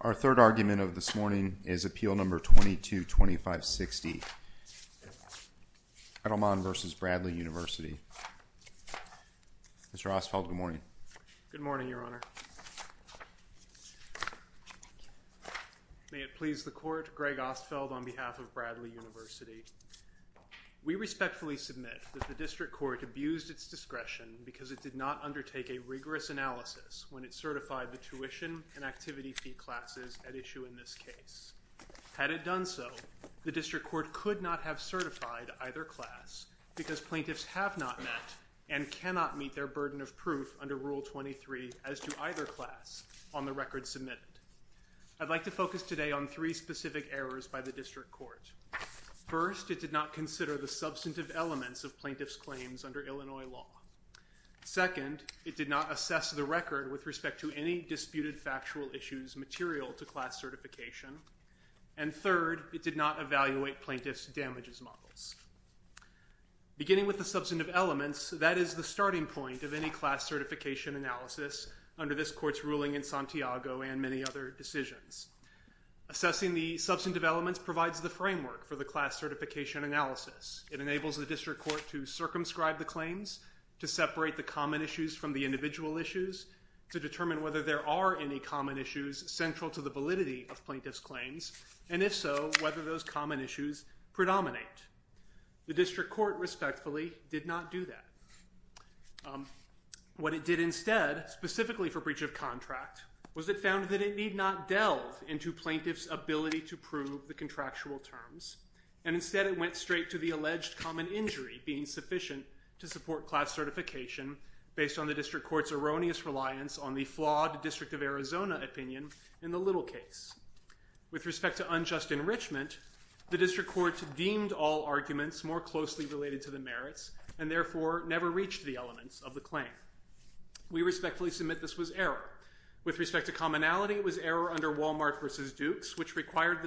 Our third argument of this morning is Appeal No. 222560, Eddlemon v. Bradley University. Mr. Ostfeld, good morning. Good morning, Your Honor. May it please the Court, Greg Ostfeld on behalf of Bradley University. We respectfully submit that the District Court abused its discretion because it did not undertake a rigorous analysis when it certified the tuition and activity fee classes at issue in this case. Had it done so, the District Court could not have certified either class because plaintiffs have not met and cannot meet their burden of proof under Rule 23 as to either class on the record submitted. I'd like to focus today on three specific errors by the District Court. First, it did not consider the substantive elements of plaintiffs' claims under Illinois law. Second, it did not assess the record with respect to any disputed factual issues material to class certification. And third, it did not evaluate plaintiffs' damages models. Beginning with the substantive elements, that is the starting point of any class certification analysis under this Court's ruling in Santiago and many other decisions. Assessing the substantive elements provides the framework for the class certification analysis. It enables the District Court to circumscribe the claims, to separate the common issues from the individual issues, to determine whether there are any common issues central to the validity of plaintiffs' claims, and if so, whether those common issues predominate. The District Court respectfully did not do that. What it did instead, specifically for breach of contract, was it found that it need not delve into plaintiffs' ability to prove the contractual terms, and instead it went straight to the alleged common injury being sufficient to support class certification based on the District Court's erroneous reliance on the flawed District of Arizona opinion in the Little case. With respect to unjust enrichment, the District Court deemed all arguments more closely related to the merits, and therefore never reached the elements of the claim. We respectfully submit this was error. With respect to commonality, it was error under Walmart v. Dukes, which required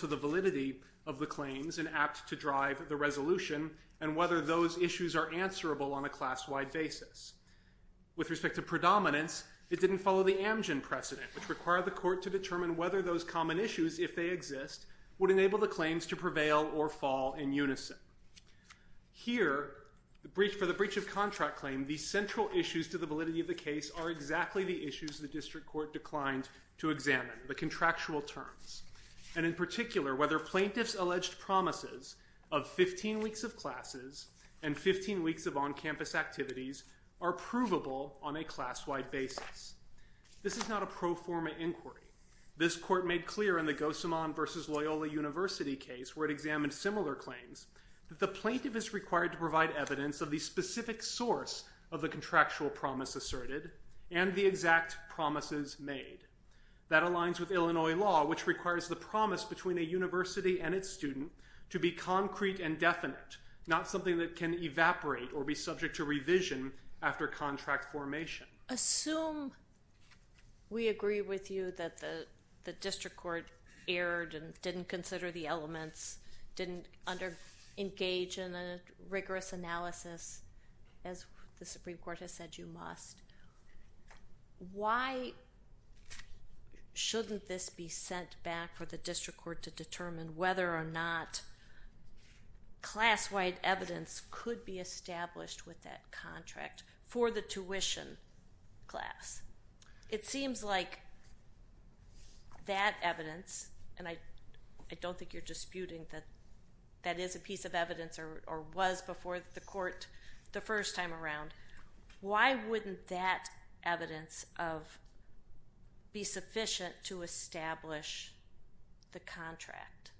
the validity of the claims and apt to drive the resolution, and whether those issues are answerable on a class-wide basis. With respect to predominance, it didn't follow the Amgen precedent, which required the Court to determine whether those common issues, if they exist, would enable the claims to prevail or fall in unison. Here for the breach of contract claim, the central issues to the validity of the case are exactly the issues the District Court declined to examine, the contractual terms, and in particular, whether plaintiffs' alleged promises of 15 weeks of classes and 15 weeks of on-campus activities are provable on a class-wide basis. This is not a pro forma inquiry. This Court made clear in the Gossamond v. Loyola University case, where it examined similar claims, that the plaintiff is required to provide evidence of the specific source of the contractual promise asserted and the exact promises made. That aligns with Illinois law, which requires the promise between a university and its student to be concrete and definite, not something that can evaporate or be subject to revision after contract formation. Assume we agree with you that the District Court erred and didn't consider the elements, didn't engage in a rigorous analysis, as the Supreme Court has said you must. Why shouldn't this be sent back for the District Court to determine whether or not class-wide evidence could be established with that contract for the tuition class? It seems like that evidence, and I don't think you're disputing that that is a piece of evidence or was before the Court the first time around. Why wouldn't that evidence be sufficient to establish the contract?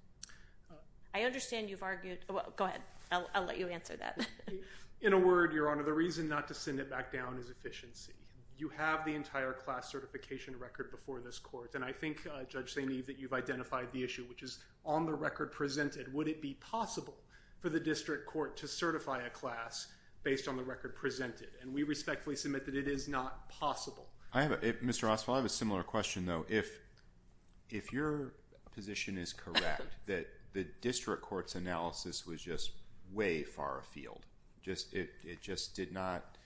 I understand you've argued, go ahead, I'll let you answer that. In a word, Your Honor, the reason not to send it back down is efficiency. You have the entire class certification record before this Court, and I think, Judge St. Eve, that you've identified the issue, which is on the record presented. Would it be possible for the District Court to certify a class based on the record presented? We respectfully submit that it is not possible. Mr. Oswald, I have a similar question, though. If your position is correct that the District Court's analysis was just way far afield, it just did not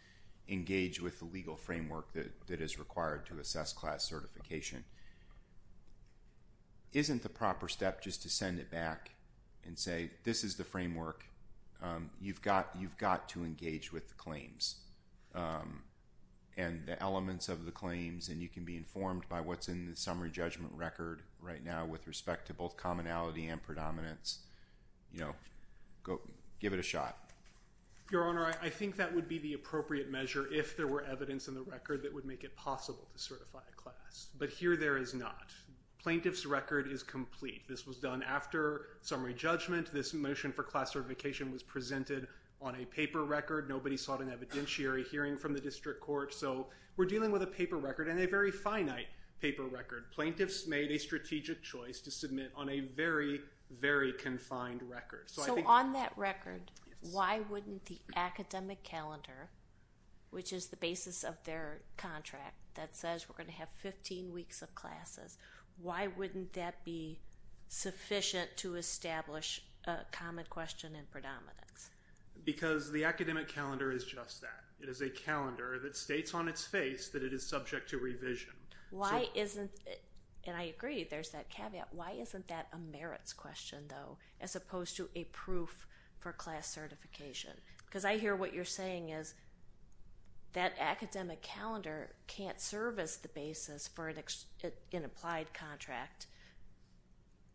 engage with the legal framework that is required to assess class certification, isn't the proper step just to send it back and say, this is the framework, you've got to engage with the claims and the elements of the claims, and you can be informed by what's in the summary judgment record right now with respect to both commonality and predominance? You know, give it a shot. Your Honor, I think that would be the appropriate measure if there were evidence but here there is not. Plaintiff's record is complete. This was done after summary judgment. This motion for class certification was presented on a paper record. Nobody sought an evidentiary hearing from the District Court, so we're dealing with a paper record and a very finite paper record. Plaintiffs made a strategic choice to submit on a very, very confined record. So I think... So on that record, why wouldn't the academic calendar, which is the basis of their contract that says we're going to have 15 weeks of classes, why wouldn't that be sufficient to establish a common question and predominance? Because the academic calendar is just that. It is a calendar that states on its face that it is subject to revision. Why isn't it, and I agree, there's that caveat, why isn't that a merits question, though, as opposed to a proof for class certification? Because I hear what you're saying is that academic calendar can't serve as the basis for an applied contract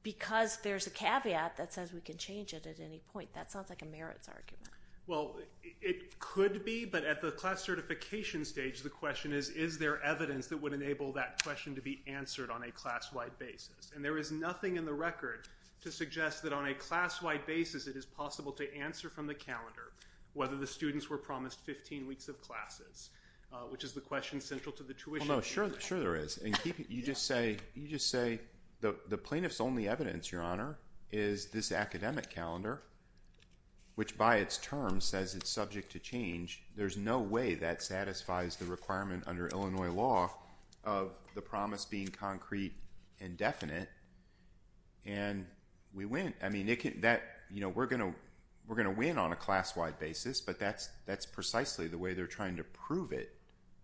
because there's a caveat that says we can change it at any point. That sounds like a merits argument. Well, it could be, but at the class certification stage, the question is, is there evidence that would enable that question to be answered on a class-wide basis? And there is nothing in the record to suggest that on a class-wide basis it is possible to answer from the calendar whether the students were promised 15 weeks of classes, which is the question central to the tuition. Well, no, sure there is, and you just say the plaintiff's only evidence, Your Honor, is this academic calendar, which by its term says it's subject to change. There's no way that satisfies the requirement under Illinois law of the promise being concrete and definite, and we win. I mean, we're going to win on a class-wide basis, but that's precisely the way they're trying to prove it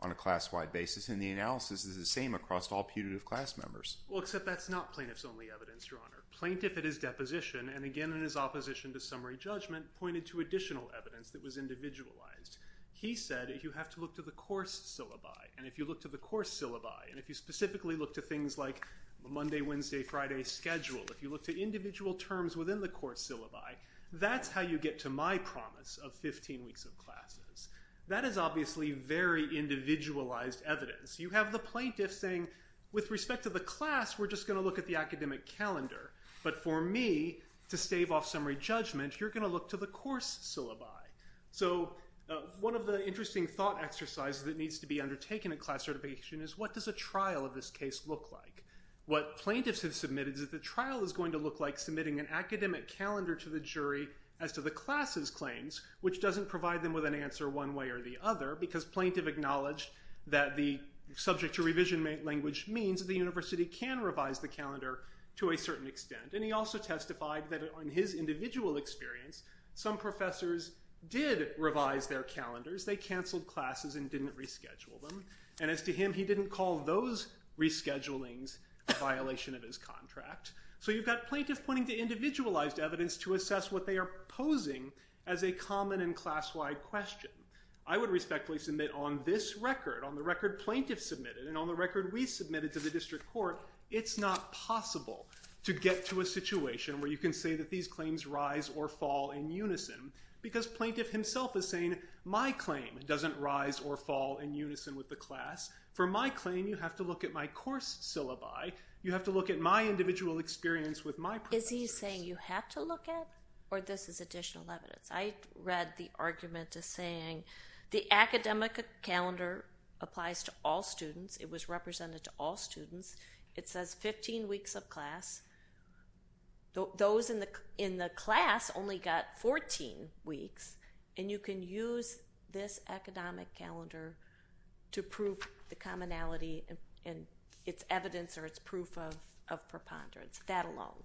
on a class-wide basis, and the analysis is the same across all putative class members. Well, except that's not plaintiff's only evidence, Your Honor. Plaintiff at his deposition, and again in his opposition to summary judgment, pointed to additional evidence that was individualized. He said if you have to look to the course syllabi, and if you look to the course syllabi, and if you specifically look to things like Monday, Wednesday, Friday schedule, if you look to individual terms within the course syllabi, that's how you get to my promise of 15 weeks of classes. That is obviously very individualized evidence. You have the plaintiff saying with respect to the class, we're just going to look at the academic calendar, but for me, to stave off summary judgment, you're going to look to the course syllabi. So one of the interesting thought exercises that needs to be undertaken at class certification is what does a trial of this case look like? What plaintiffs have submitted is that the trial is going to look like submitting an academic calendar to the jury as to the class's claims, which doesn't provide them with an answer one way or the other, because plaintiff acknowledged that the subject to revision language means the university can revise the calendar to a certain extent, and he also testified that on his individual experience, some professors did revise their calendars. They canceled classes and didn't reschedule them, and as to him, he didn't call those reschedulings a violation of his contract. So you've got plaintiff pointing to individualized evidence to assess what they are posing as a common and class-wide question. I would respectfully submit on this record, on the record plaintiff submitted and on the record we submitted to the district court, it's not possible to get to a situation where you can say that these claims rise or fall in unison, because plaintiff himself is saying my claim doesn't rise or fall in unison with the class. For my claim, you have to look at my course syllabi. You have to look at my individual experience with my professors. Is he saying you have to look at, or this is additional evidence? I read the argument as saying the academic calendar applies to all students. It was represented to all students. It says 15 weeks of class. Those in the class only got 14 weeks, and you can use this academic calendar to prove the commonality in its evidence or its proof of preponderance, that alone.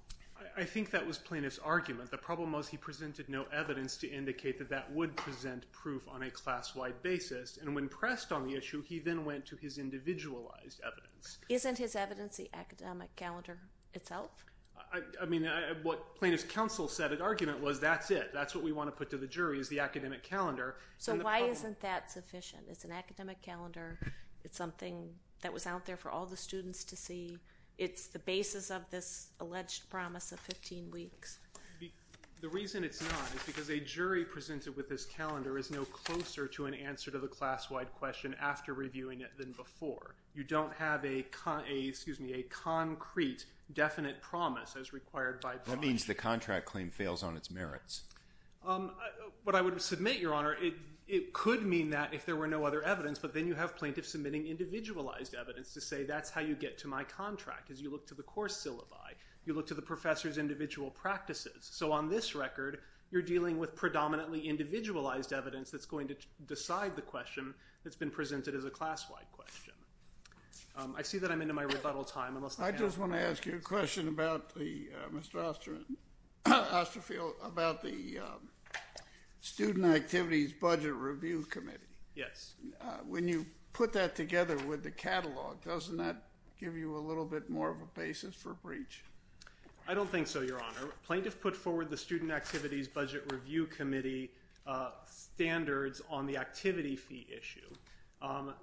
I think that was plaintiff's argument. The problem was he presented no evidence to indicate that that would present proof on a class-wide basis. And when pressed on the issue, he then went to his individualized evidence. Isn't his evidence the academic calendar itself? I mean, what plaintiff's counsel said in argument was that's it. That's what we want to put to the jury is the academic calendar. So why isn't that sufficient? It's an academic calendar. It's something that was out there for all the students to see. It's the basis of this alleged promise of 15 weeks. The reason it's not is because a jury presented with this calendar is no closer to an answer to the class-wide question after reviewing it than before. You don't have a, excuse me, a concrete, definite promise as required by the law. That means the contract claim fails on its merits. What I would submit, Your Honor, it could mean that if there were no other evidence. But then you have plaintiffs submitting individualized evidence to say that's how you get to my contract, is you look to the course syllabi. You look to the professor's individual practices. So on this record, you're dealing with predominantly individualized evidence that's going to decide the question that's been presented as a class-wide question. I see that I'm into my rebuttal time. I just want to ask you a question about the, Mr. Osterfield, about the Student Activities Budget Review Committee. Yes. When you put that together with the catalog, doesn't that give you a little bit more of a basis for breach? I don't think so, Your Honor. Plaintiffs put forward the Student Activities Budget Review Committee standards on the activity fee issue.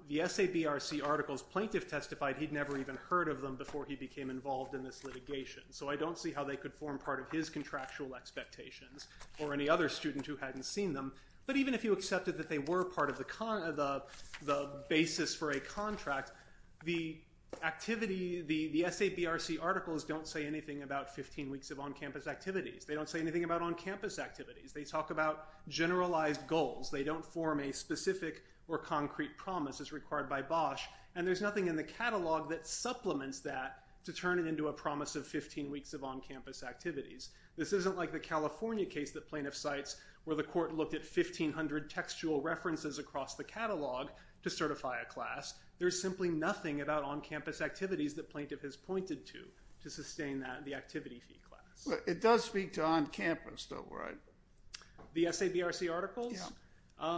The SABRC articles, plaintiff testified he'd never even heard of them before he became involved in this litigation. So I don't see how they could form part of his contractual expectations or any other student who hadn't seen them. But even if you accepted that they were part of the basis for a contract, the activity, the SABRC articles don't say anything about 15 weeks of on-campus activities. They don't say anything about on-campus activities. They talk about generalized goals. They don't form a specific or concrete promise as required by Bosch. And there's nothing in the catalog that supplements that to turn it into a promise of 15 weeks of on-campus activities. This isn't like the California case that plaintiff cites where the court looked at 1,500 textual references across the catalog to certify a class. There's simply nothing about on-campus activities that plaintiff has pointed to to sustain the activity fee class. It does speak to on-campus though, right? The SABRC articles? Yeah.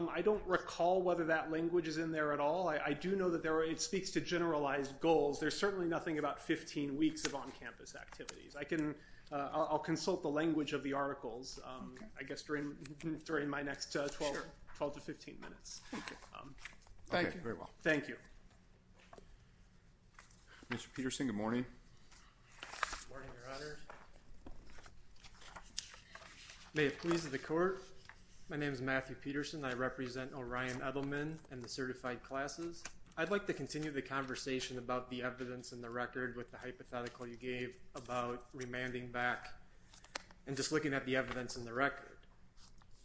I don't recall whether that language is in there at all. I do know that there are, it speaks to generalized goals. There's certainly nothing about 15 weeks of on-campus activities. I can, I'll consult the language of the articles. I guess during my next 12 to 15 minutes. Thank you. Thank you. Mr. Peterson, good morning. Good morning, Your Honor. May it please the court. My name is Matthew Peterson. I represent Orion Edelman and the certified classes. I'd like to continue the conversation about the evidence in the record with the hypothetical you gave about remanding back and just looking at the evidence in the record.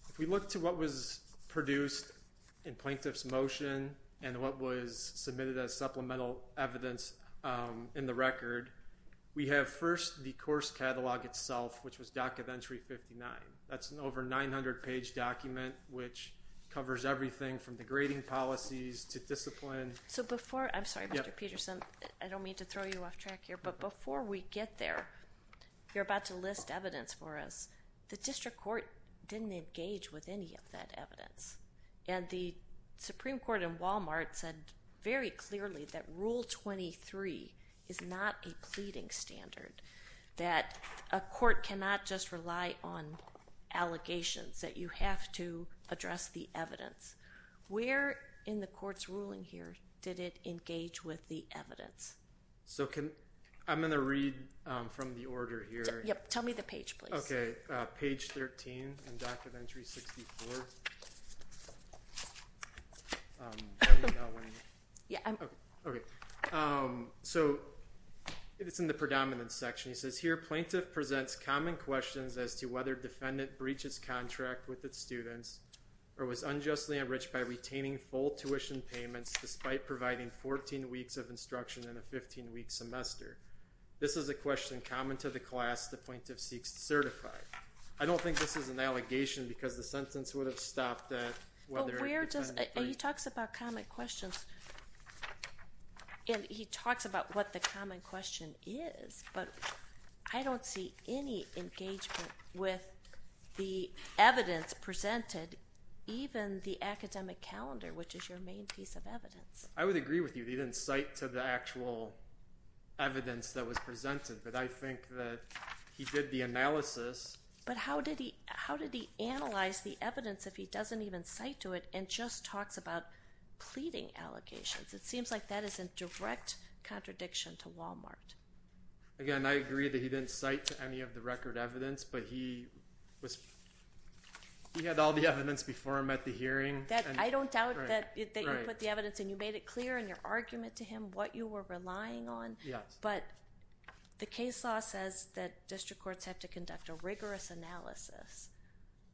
If we look to what was produced in plaintiff's motion and what was submitted as supplemental evidence in the record, we have first the course catalog itself, which was Docket Entry 59. That's an over 900 page document, which covers everything from the grading policies to discipline. So before, I'm sorry, Mr. Peterson, I don't mean to throw you off track here, but before we get there, you're about to list evidence for us. The district court didn't engage with any of that evidence. And the Supreme Court in Walmart said very clearly that Rule 23 is not a pleading standard. That a court cannot just rely on allegations, that you have to address the evidence. Where in the court's ruling here did it engage with the evidence? So can, I'm going to read from the order here. Yep, tell me the page, please. Okay, page 13 in Docket Entry 64. Tell me about when. Yeah, I'm. Okay, so it's in the predominant section. It says here, plaintiff presents common questions as to whether defendant breaches contract with its students or was unjustly enriched by retaining full tuition payments despite providing 14 weeks of instruction in a 15 week semester. This is a question common to the class the plaintiff seeks to certify. I don't think this is an allegation because the sentence would have stopped at whether a defendant. He talks about common questions. And he talks about what the common question is. But I don't see any engagement with the evidence presented, even the academic calendar, which is your main piece of evidence. I would agree with you. He didn't cite to the actual evidence that was presented. But I think that he did the analysis. But how did he, how did he analyze the evidence if he doesn't even cite to it and just talks about pleading allegations? It seems like that is a direct contradiction to Walmart. Again, I agree that he didn't cite to any of the record evidence, but he was. He had all the evidence before I met the hearing that I don't doubt that they put the evidence and you made it clear in your argument to him what you were relying on. Yes, but the case law says that district courts have to conduct a rigorous analysis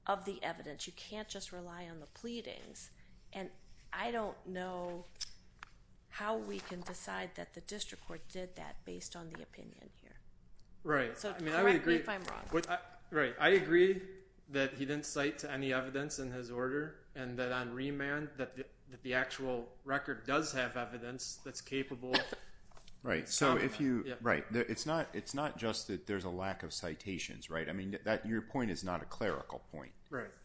of the evidence. But you can't just rely on the pleadings. And I don't know how we can decide that the district court did that based on the opinion here. Right. Correct me if I'm wrong. Right, I agree that he didn't cite to any evidence in his order and that on remand that the actual record does have evidence that's capable of. Right, so it's not just that there's a lack of citations, right? I mean, your point is not a clerical point.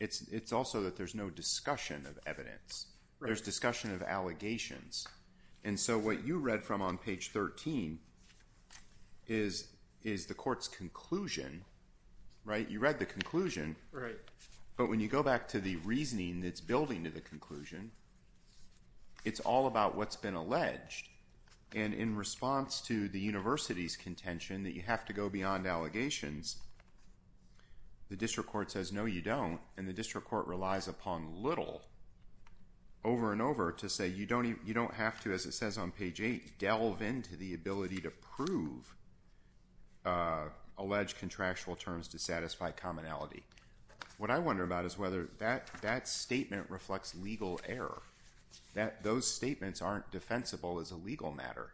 It's also that there's no discussion of evidence. There's discussion of allegations. And so what you read from on page 13 is the court's conclusion, right? You read the conclusion. But when you go back to the reasoning that's building to the conclusion, it's all about what's been alleged. And in response to the university's contention that you have to go beyond allegations, the district court says, no, you don't. And the district court relies upon little over and over to say, you don't have to, as it says on page 8, delve into the ability to prove alleged contractual terms to satisfy commonality. What I wonder about is whether that statement reflects legal error, that those statements aren't defensible as a legal matter.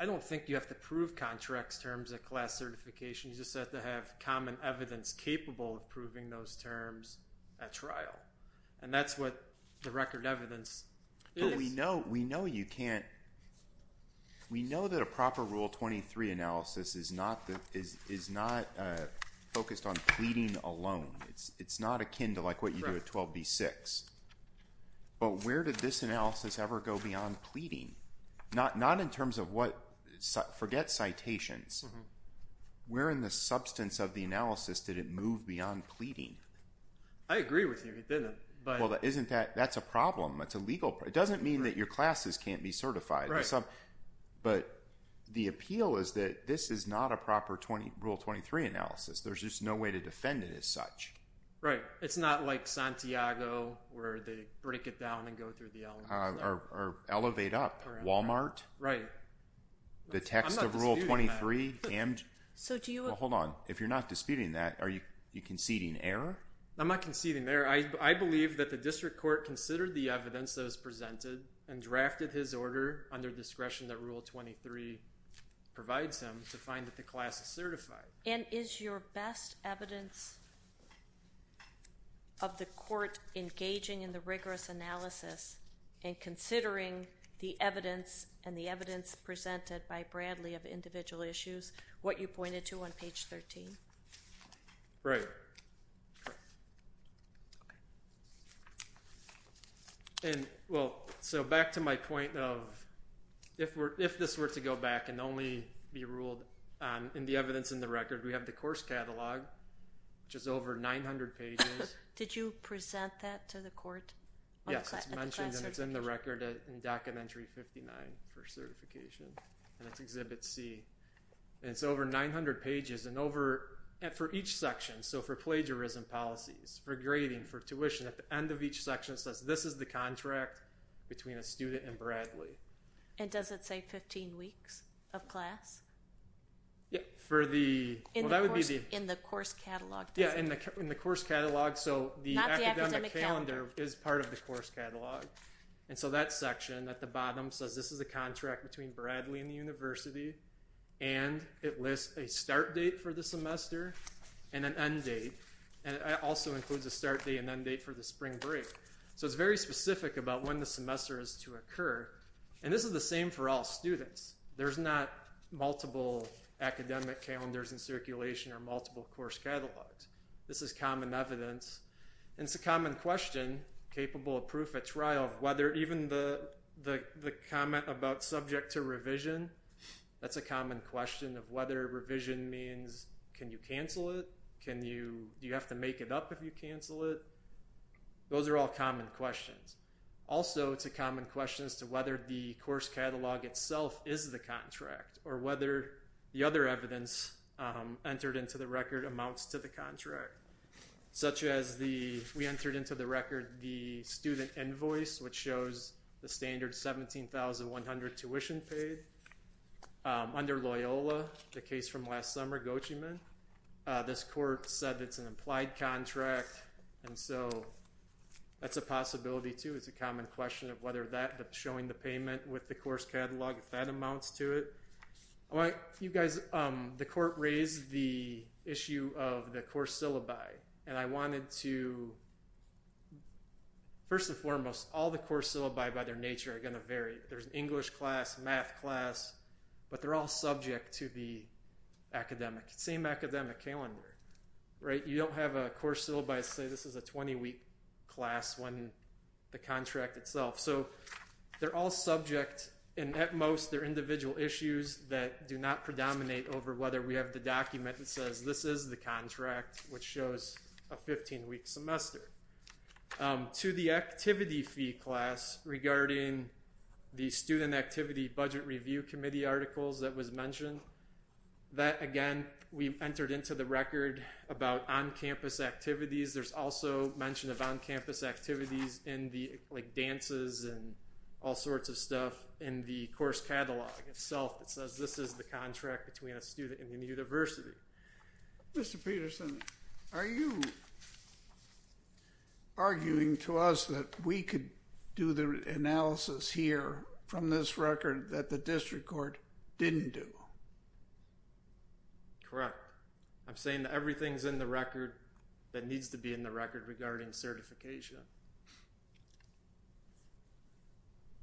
I don't think you have to prove contracts terms at class certification. You just have to have common evidence capable of proving those terms at trial. And that's what the record evidence is. We know you can't. We know that a proper Rule 23 analysis is not focused on pleading alone. It's not akin to like what you do at 12b-6. But where did this analysis ever go beyond pleading? Not in terms of what, forget citations. Where in the substance of the analysis did it move beyond pleading? I agree with you. It didn't. Well, that's a problem. It's a legal problem. It doesn't mean that your classes can't be certified. But the appeal is that this is not a proper Rule 23 analysis. There's just no way to defend it as such. Right. It's not like Santiago, where they break it down and go through the elements. Or elevate up. Walmart? Right. The text of Rule 23 and. So do you. Hold on. If you're not disputing that, are you conceding error? I'm not conceding error. I believe that the district court considered the evidence that was presented and drafted his order under discretion that Rule 23 provides him to find that the class is certified. And is your best evidence of the court engaging in the rigorous analysis and considering the evidence and the evidence presented by Bradley of individual issues? What you pointed to on page 13. Right. And well, so back to my point of if this were to go back and only be ruled in the evidence in the record, we have the course catalog, which is over 900 pages. Did you present that to the court? Yes, it's mentioned. And it's in the record in Documentary 59 for certification. And it's Exhibit C. And it's over 900 pages. And for each section, so for plagiarism policies, for grading, for tuition, at the end of each section, it says, this is the contract between a student and Bradley. And does it say 15 weeks of class? Yeah, for the, well, that would be the. In the course catalog. Yeah, in the course catalog. So the academic calendar is part of the course catalog. And so that section at the bottom says, this is a contract between Bradley and the university. And it lists a start date for the semester and an end date. And it also includes a start date and end date for the spring break. So it's very specific about when the semester is to occur. And this is the same for all students. There's not multiple academic calendars in circulation or multiple course catalogs. This is common evidence. And it's a common question capable of proof at trial of whether even the comment about subject to revision, that's a common question of whether revision means, can you cancel it? Can you, do you have to make it up if you cancel it? Those are all common questions. Also, it's a common question as to whether the course catalog itself is the contract or whether the other evidence entered into the record amounts to the contract, such as the, we entered into the record, the student invoice, which shows the standard 17,100 tuition paid. Under Loyola, the case from last summer, Gochiman, this court said it's an implied contract. And so that's a possibility, too. It's a common question of whether that, showing the payment with the course catalog, if that amounts to it. All right, you guys, the court raised the issue of the course syllabi. And I wanted to, first and foremost, all the course syllabi by their nature are going to vary. There's an English class, math class. But they're all subject to the academic, same academic calendar, right? You don't have a course syllabi say this is a 20-week class when the contract itself. So they're all subject, and at most, they're individual issues that do not predominate over whether we have the document that says this is the contract, which shows a 15-week semester. To the activity fee class regarding the student activity budget review committee articles that was mentioned, that, again, we entered into the record about on-campus activities. There's also mention of on-campus activities in the dances and all sorts of stuff in the course catalog itself. It says this is the contract between a student and the university. Mr. Peterson, are you arguing to us that we could do the analysis here from this record that the district court didn't do? Correct. I'm saying that everything's in the record that needs to be in the record regarding certification.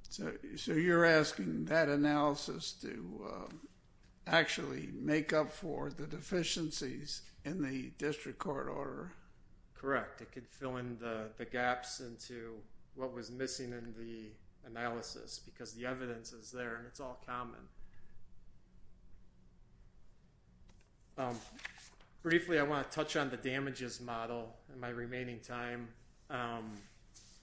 So you're asking that analysis to actually make up for the deficiencies in the district court order? Correct. It could fill in the gaps into what was missing in the analysis because the evidence is there, and it's all common. Briefly, I want to touch on the damages model in my remaining time.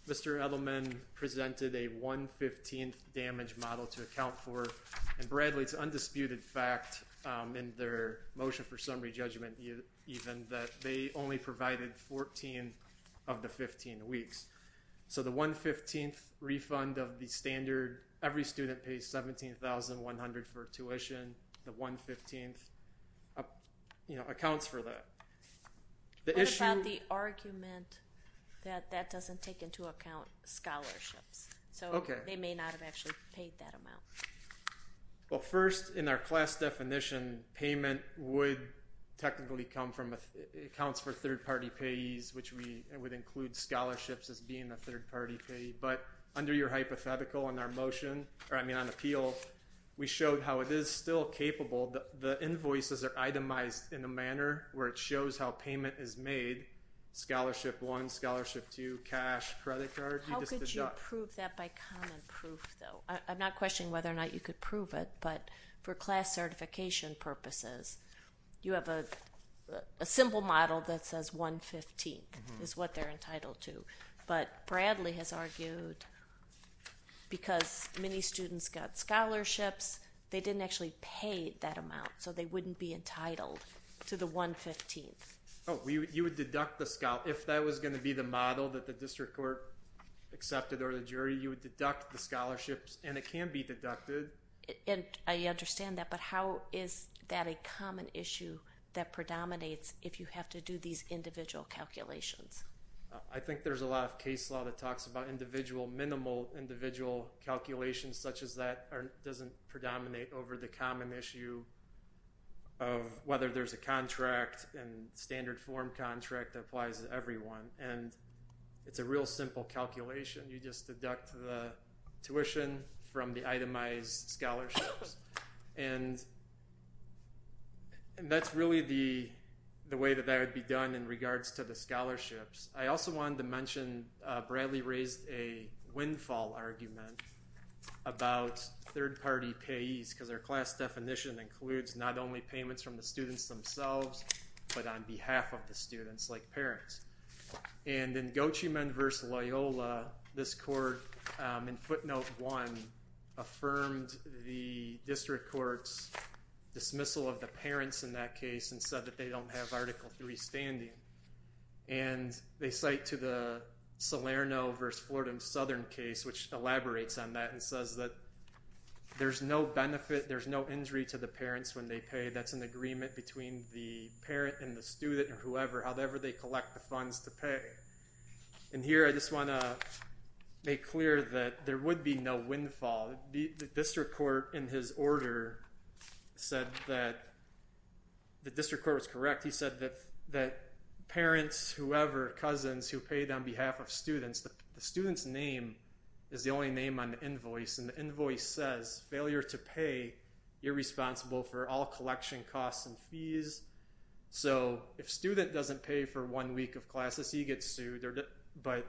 Mr. Edelman presented a 115th damage model to account for. And Bradley, it's undisputed fact in their motion for summary judgment even that they only provided 14 of the 15 weeks. So the 115th refund of the standard, every student pays $17,100 for tuition. The 115th accounts for that. What about the argument that that doesn't take into account scholarships? So they may not have actually paid that amount. Well, first, in our class definition, payment would technically come from accounts for third-party payees, which would include scholarships as being a third-party payee. But under your hypothetical in our motion, or I mean on appeal, we showed how it is still capable. The invoices are itemized in a manner where it shows how payment is made, scholarship one, scholarship two, cash, credit card. How could you prove that by common proof, though? I'm not questioning whether or not you could prove it. But for class certification purposes, you have a simple model that says 115th is what they're entitled to. But Bradley has argued, because many students got scholarships, they didn't actually pay that amount. So they wouldn't be entitled to the 115th. Oh, you would deduct the scholarship. If that was going to be the model that the district court accepted, or the jury, you would deduct the scholarships. And it can be deducted. And I understand that. But how is that a common issue that predominates if you have to do these individual calculations? I think there's a lot of case law that talks about individual, minimal individual calculations such as that doesn't predominate over the common issue of whether there's a contract and standard form contract that applies to everyone. And it's a real simple calculation. You just deduct the tuition from the itemized scholarships. And that's really the way that that would be done in regards to the scholarships. I also wanted to mention, Bradley raised a windfall argument about third party payees, because their class definition includes not only payments from the students themselves, but on behalf of the students, like parents. And in Gochiemond v. Loyola, this court, in footnote one, affirmed the district court's dismissal of the parents in that case and said that they don't have Article III standing. And they cite to the Salerno v. Florida and Southern case, which elaborates on that and says that there's no benefit, there's no injury to the parents when they pay. That's an agreement between the parent and the student or whoever, however they collect the funds to pay. And here, I just want to make clear that there would be no windfall. The district court, in his order, said that the district court was correct. He said that parents, whoever, cousins who paid on behalf of students, the student's name is the only name on the invoice. And the invoice says, failure to pay, you're responsible for all collection costs and fees. So if student doesn't pay for one week of classes, he gets sued. But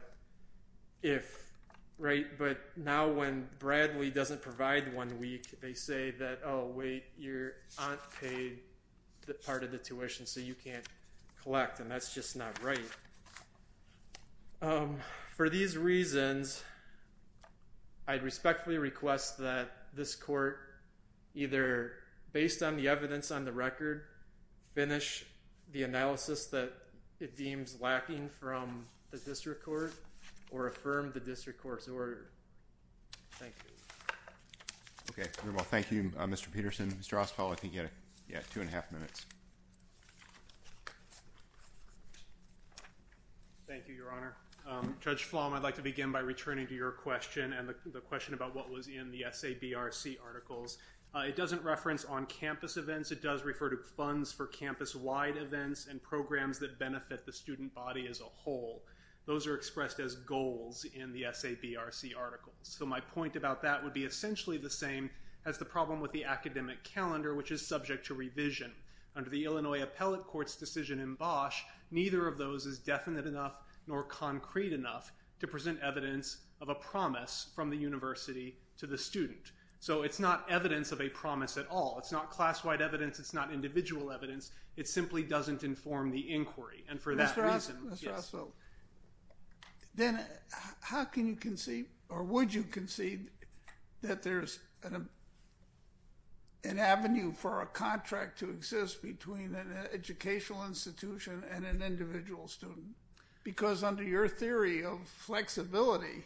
if, right, but now when Bradley doesn't provide one week, they say that, oh, wait, your aunt paid part of the tuition, so you can't collect. And that's just not right. For these reasons, I'd respectfully request that this court either, notice that it deems lacking from the district court, or affirm the district court's order. Thank you. OK. Well, thank you, Mr. Peterson. Mr. Ospal, I think you had two and a half minutes. Thank you, Your Honor. Judge Flom, I'd like to begin by returning to your question and the question about what was in the SABRC articles. It doesn't reference on-campus events. It does refer to funds for campus-wide events and programs that benefit the student body as a whole. Those are expressed as goals in the SABRC articles. So my point about that would be essentially the same as the problem with the academic calendar, which is subject to revision. Under the Illinois Appellate Court's decision in Bosch, neither of those is definite enough nor concrete enough to present evidence of a promise from the university to the student. So it's not evidence of a promise at all. It's not class-wide evidence. It's not individual evidence. It simply doesn't inform the inquiry. And for that reason, yes. Mr. Ospal, then how can you concede or would you concede that there is an avenue for a contract to exist between an educational institution and an individual student? Because under your theory of flexibility,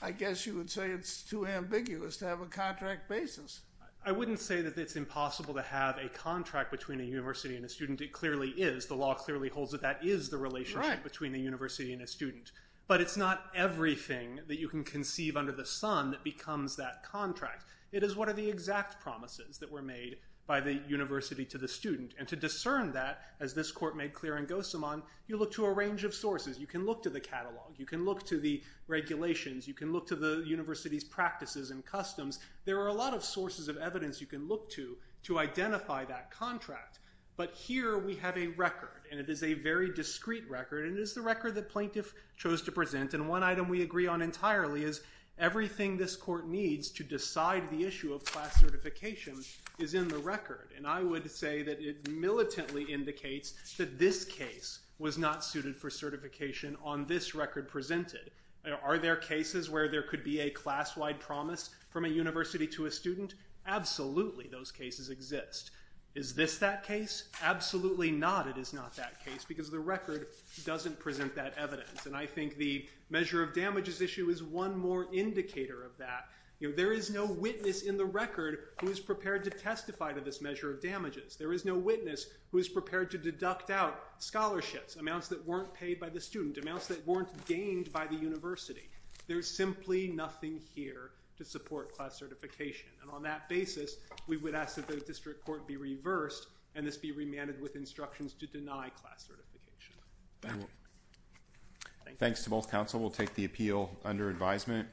I guess you would say it's too ambiguous to have a contract basis. I wouldn't say that it's impossible to have a contract between a university and a student. It clearly is. The law clearly holds that that is the relationship between a university and a student. But it's not everything that you can conceive under the sun that becomes that contract. It is what are the exact promises that were made by the university to the student. And to discern that, as this court made clear in Gosamon, you look to a range of sources. You can look to the catalog. You can look to the regulations. You can look to the university's practices and customs. There are a lot of sources of evidence you can look to to identify that contract. But here we have a record. And it is a very discrete record. And it is the record that plaintiff chose to present. And one item we agree on entirely is everything this court needs to decide the issue of class certification is in the record. And I would say that it militantly indicates that this case was not suited for certification on this record presented. Are there cases where there could be a class-wide promise from a university to a student? Absolutely, those cases exist. Is this that case? Absolutely not, it is not that case, because the record doesn't present that evidence. And I think the measure of damages issue is one more indicator of that. There is no witness in the record who is prepared to testify to this measure of damages. There is no witness who is prepared to deduct out scholarships, amounts that weren't paid by the student, amounts that weren't gained by the university. There is simply nothing here to support class certification. And on that basis, we would ask that the district court be reversed and this be remanded with instructions to deny class certification. Thanks to both counsel. We'll take the appeal under advisement.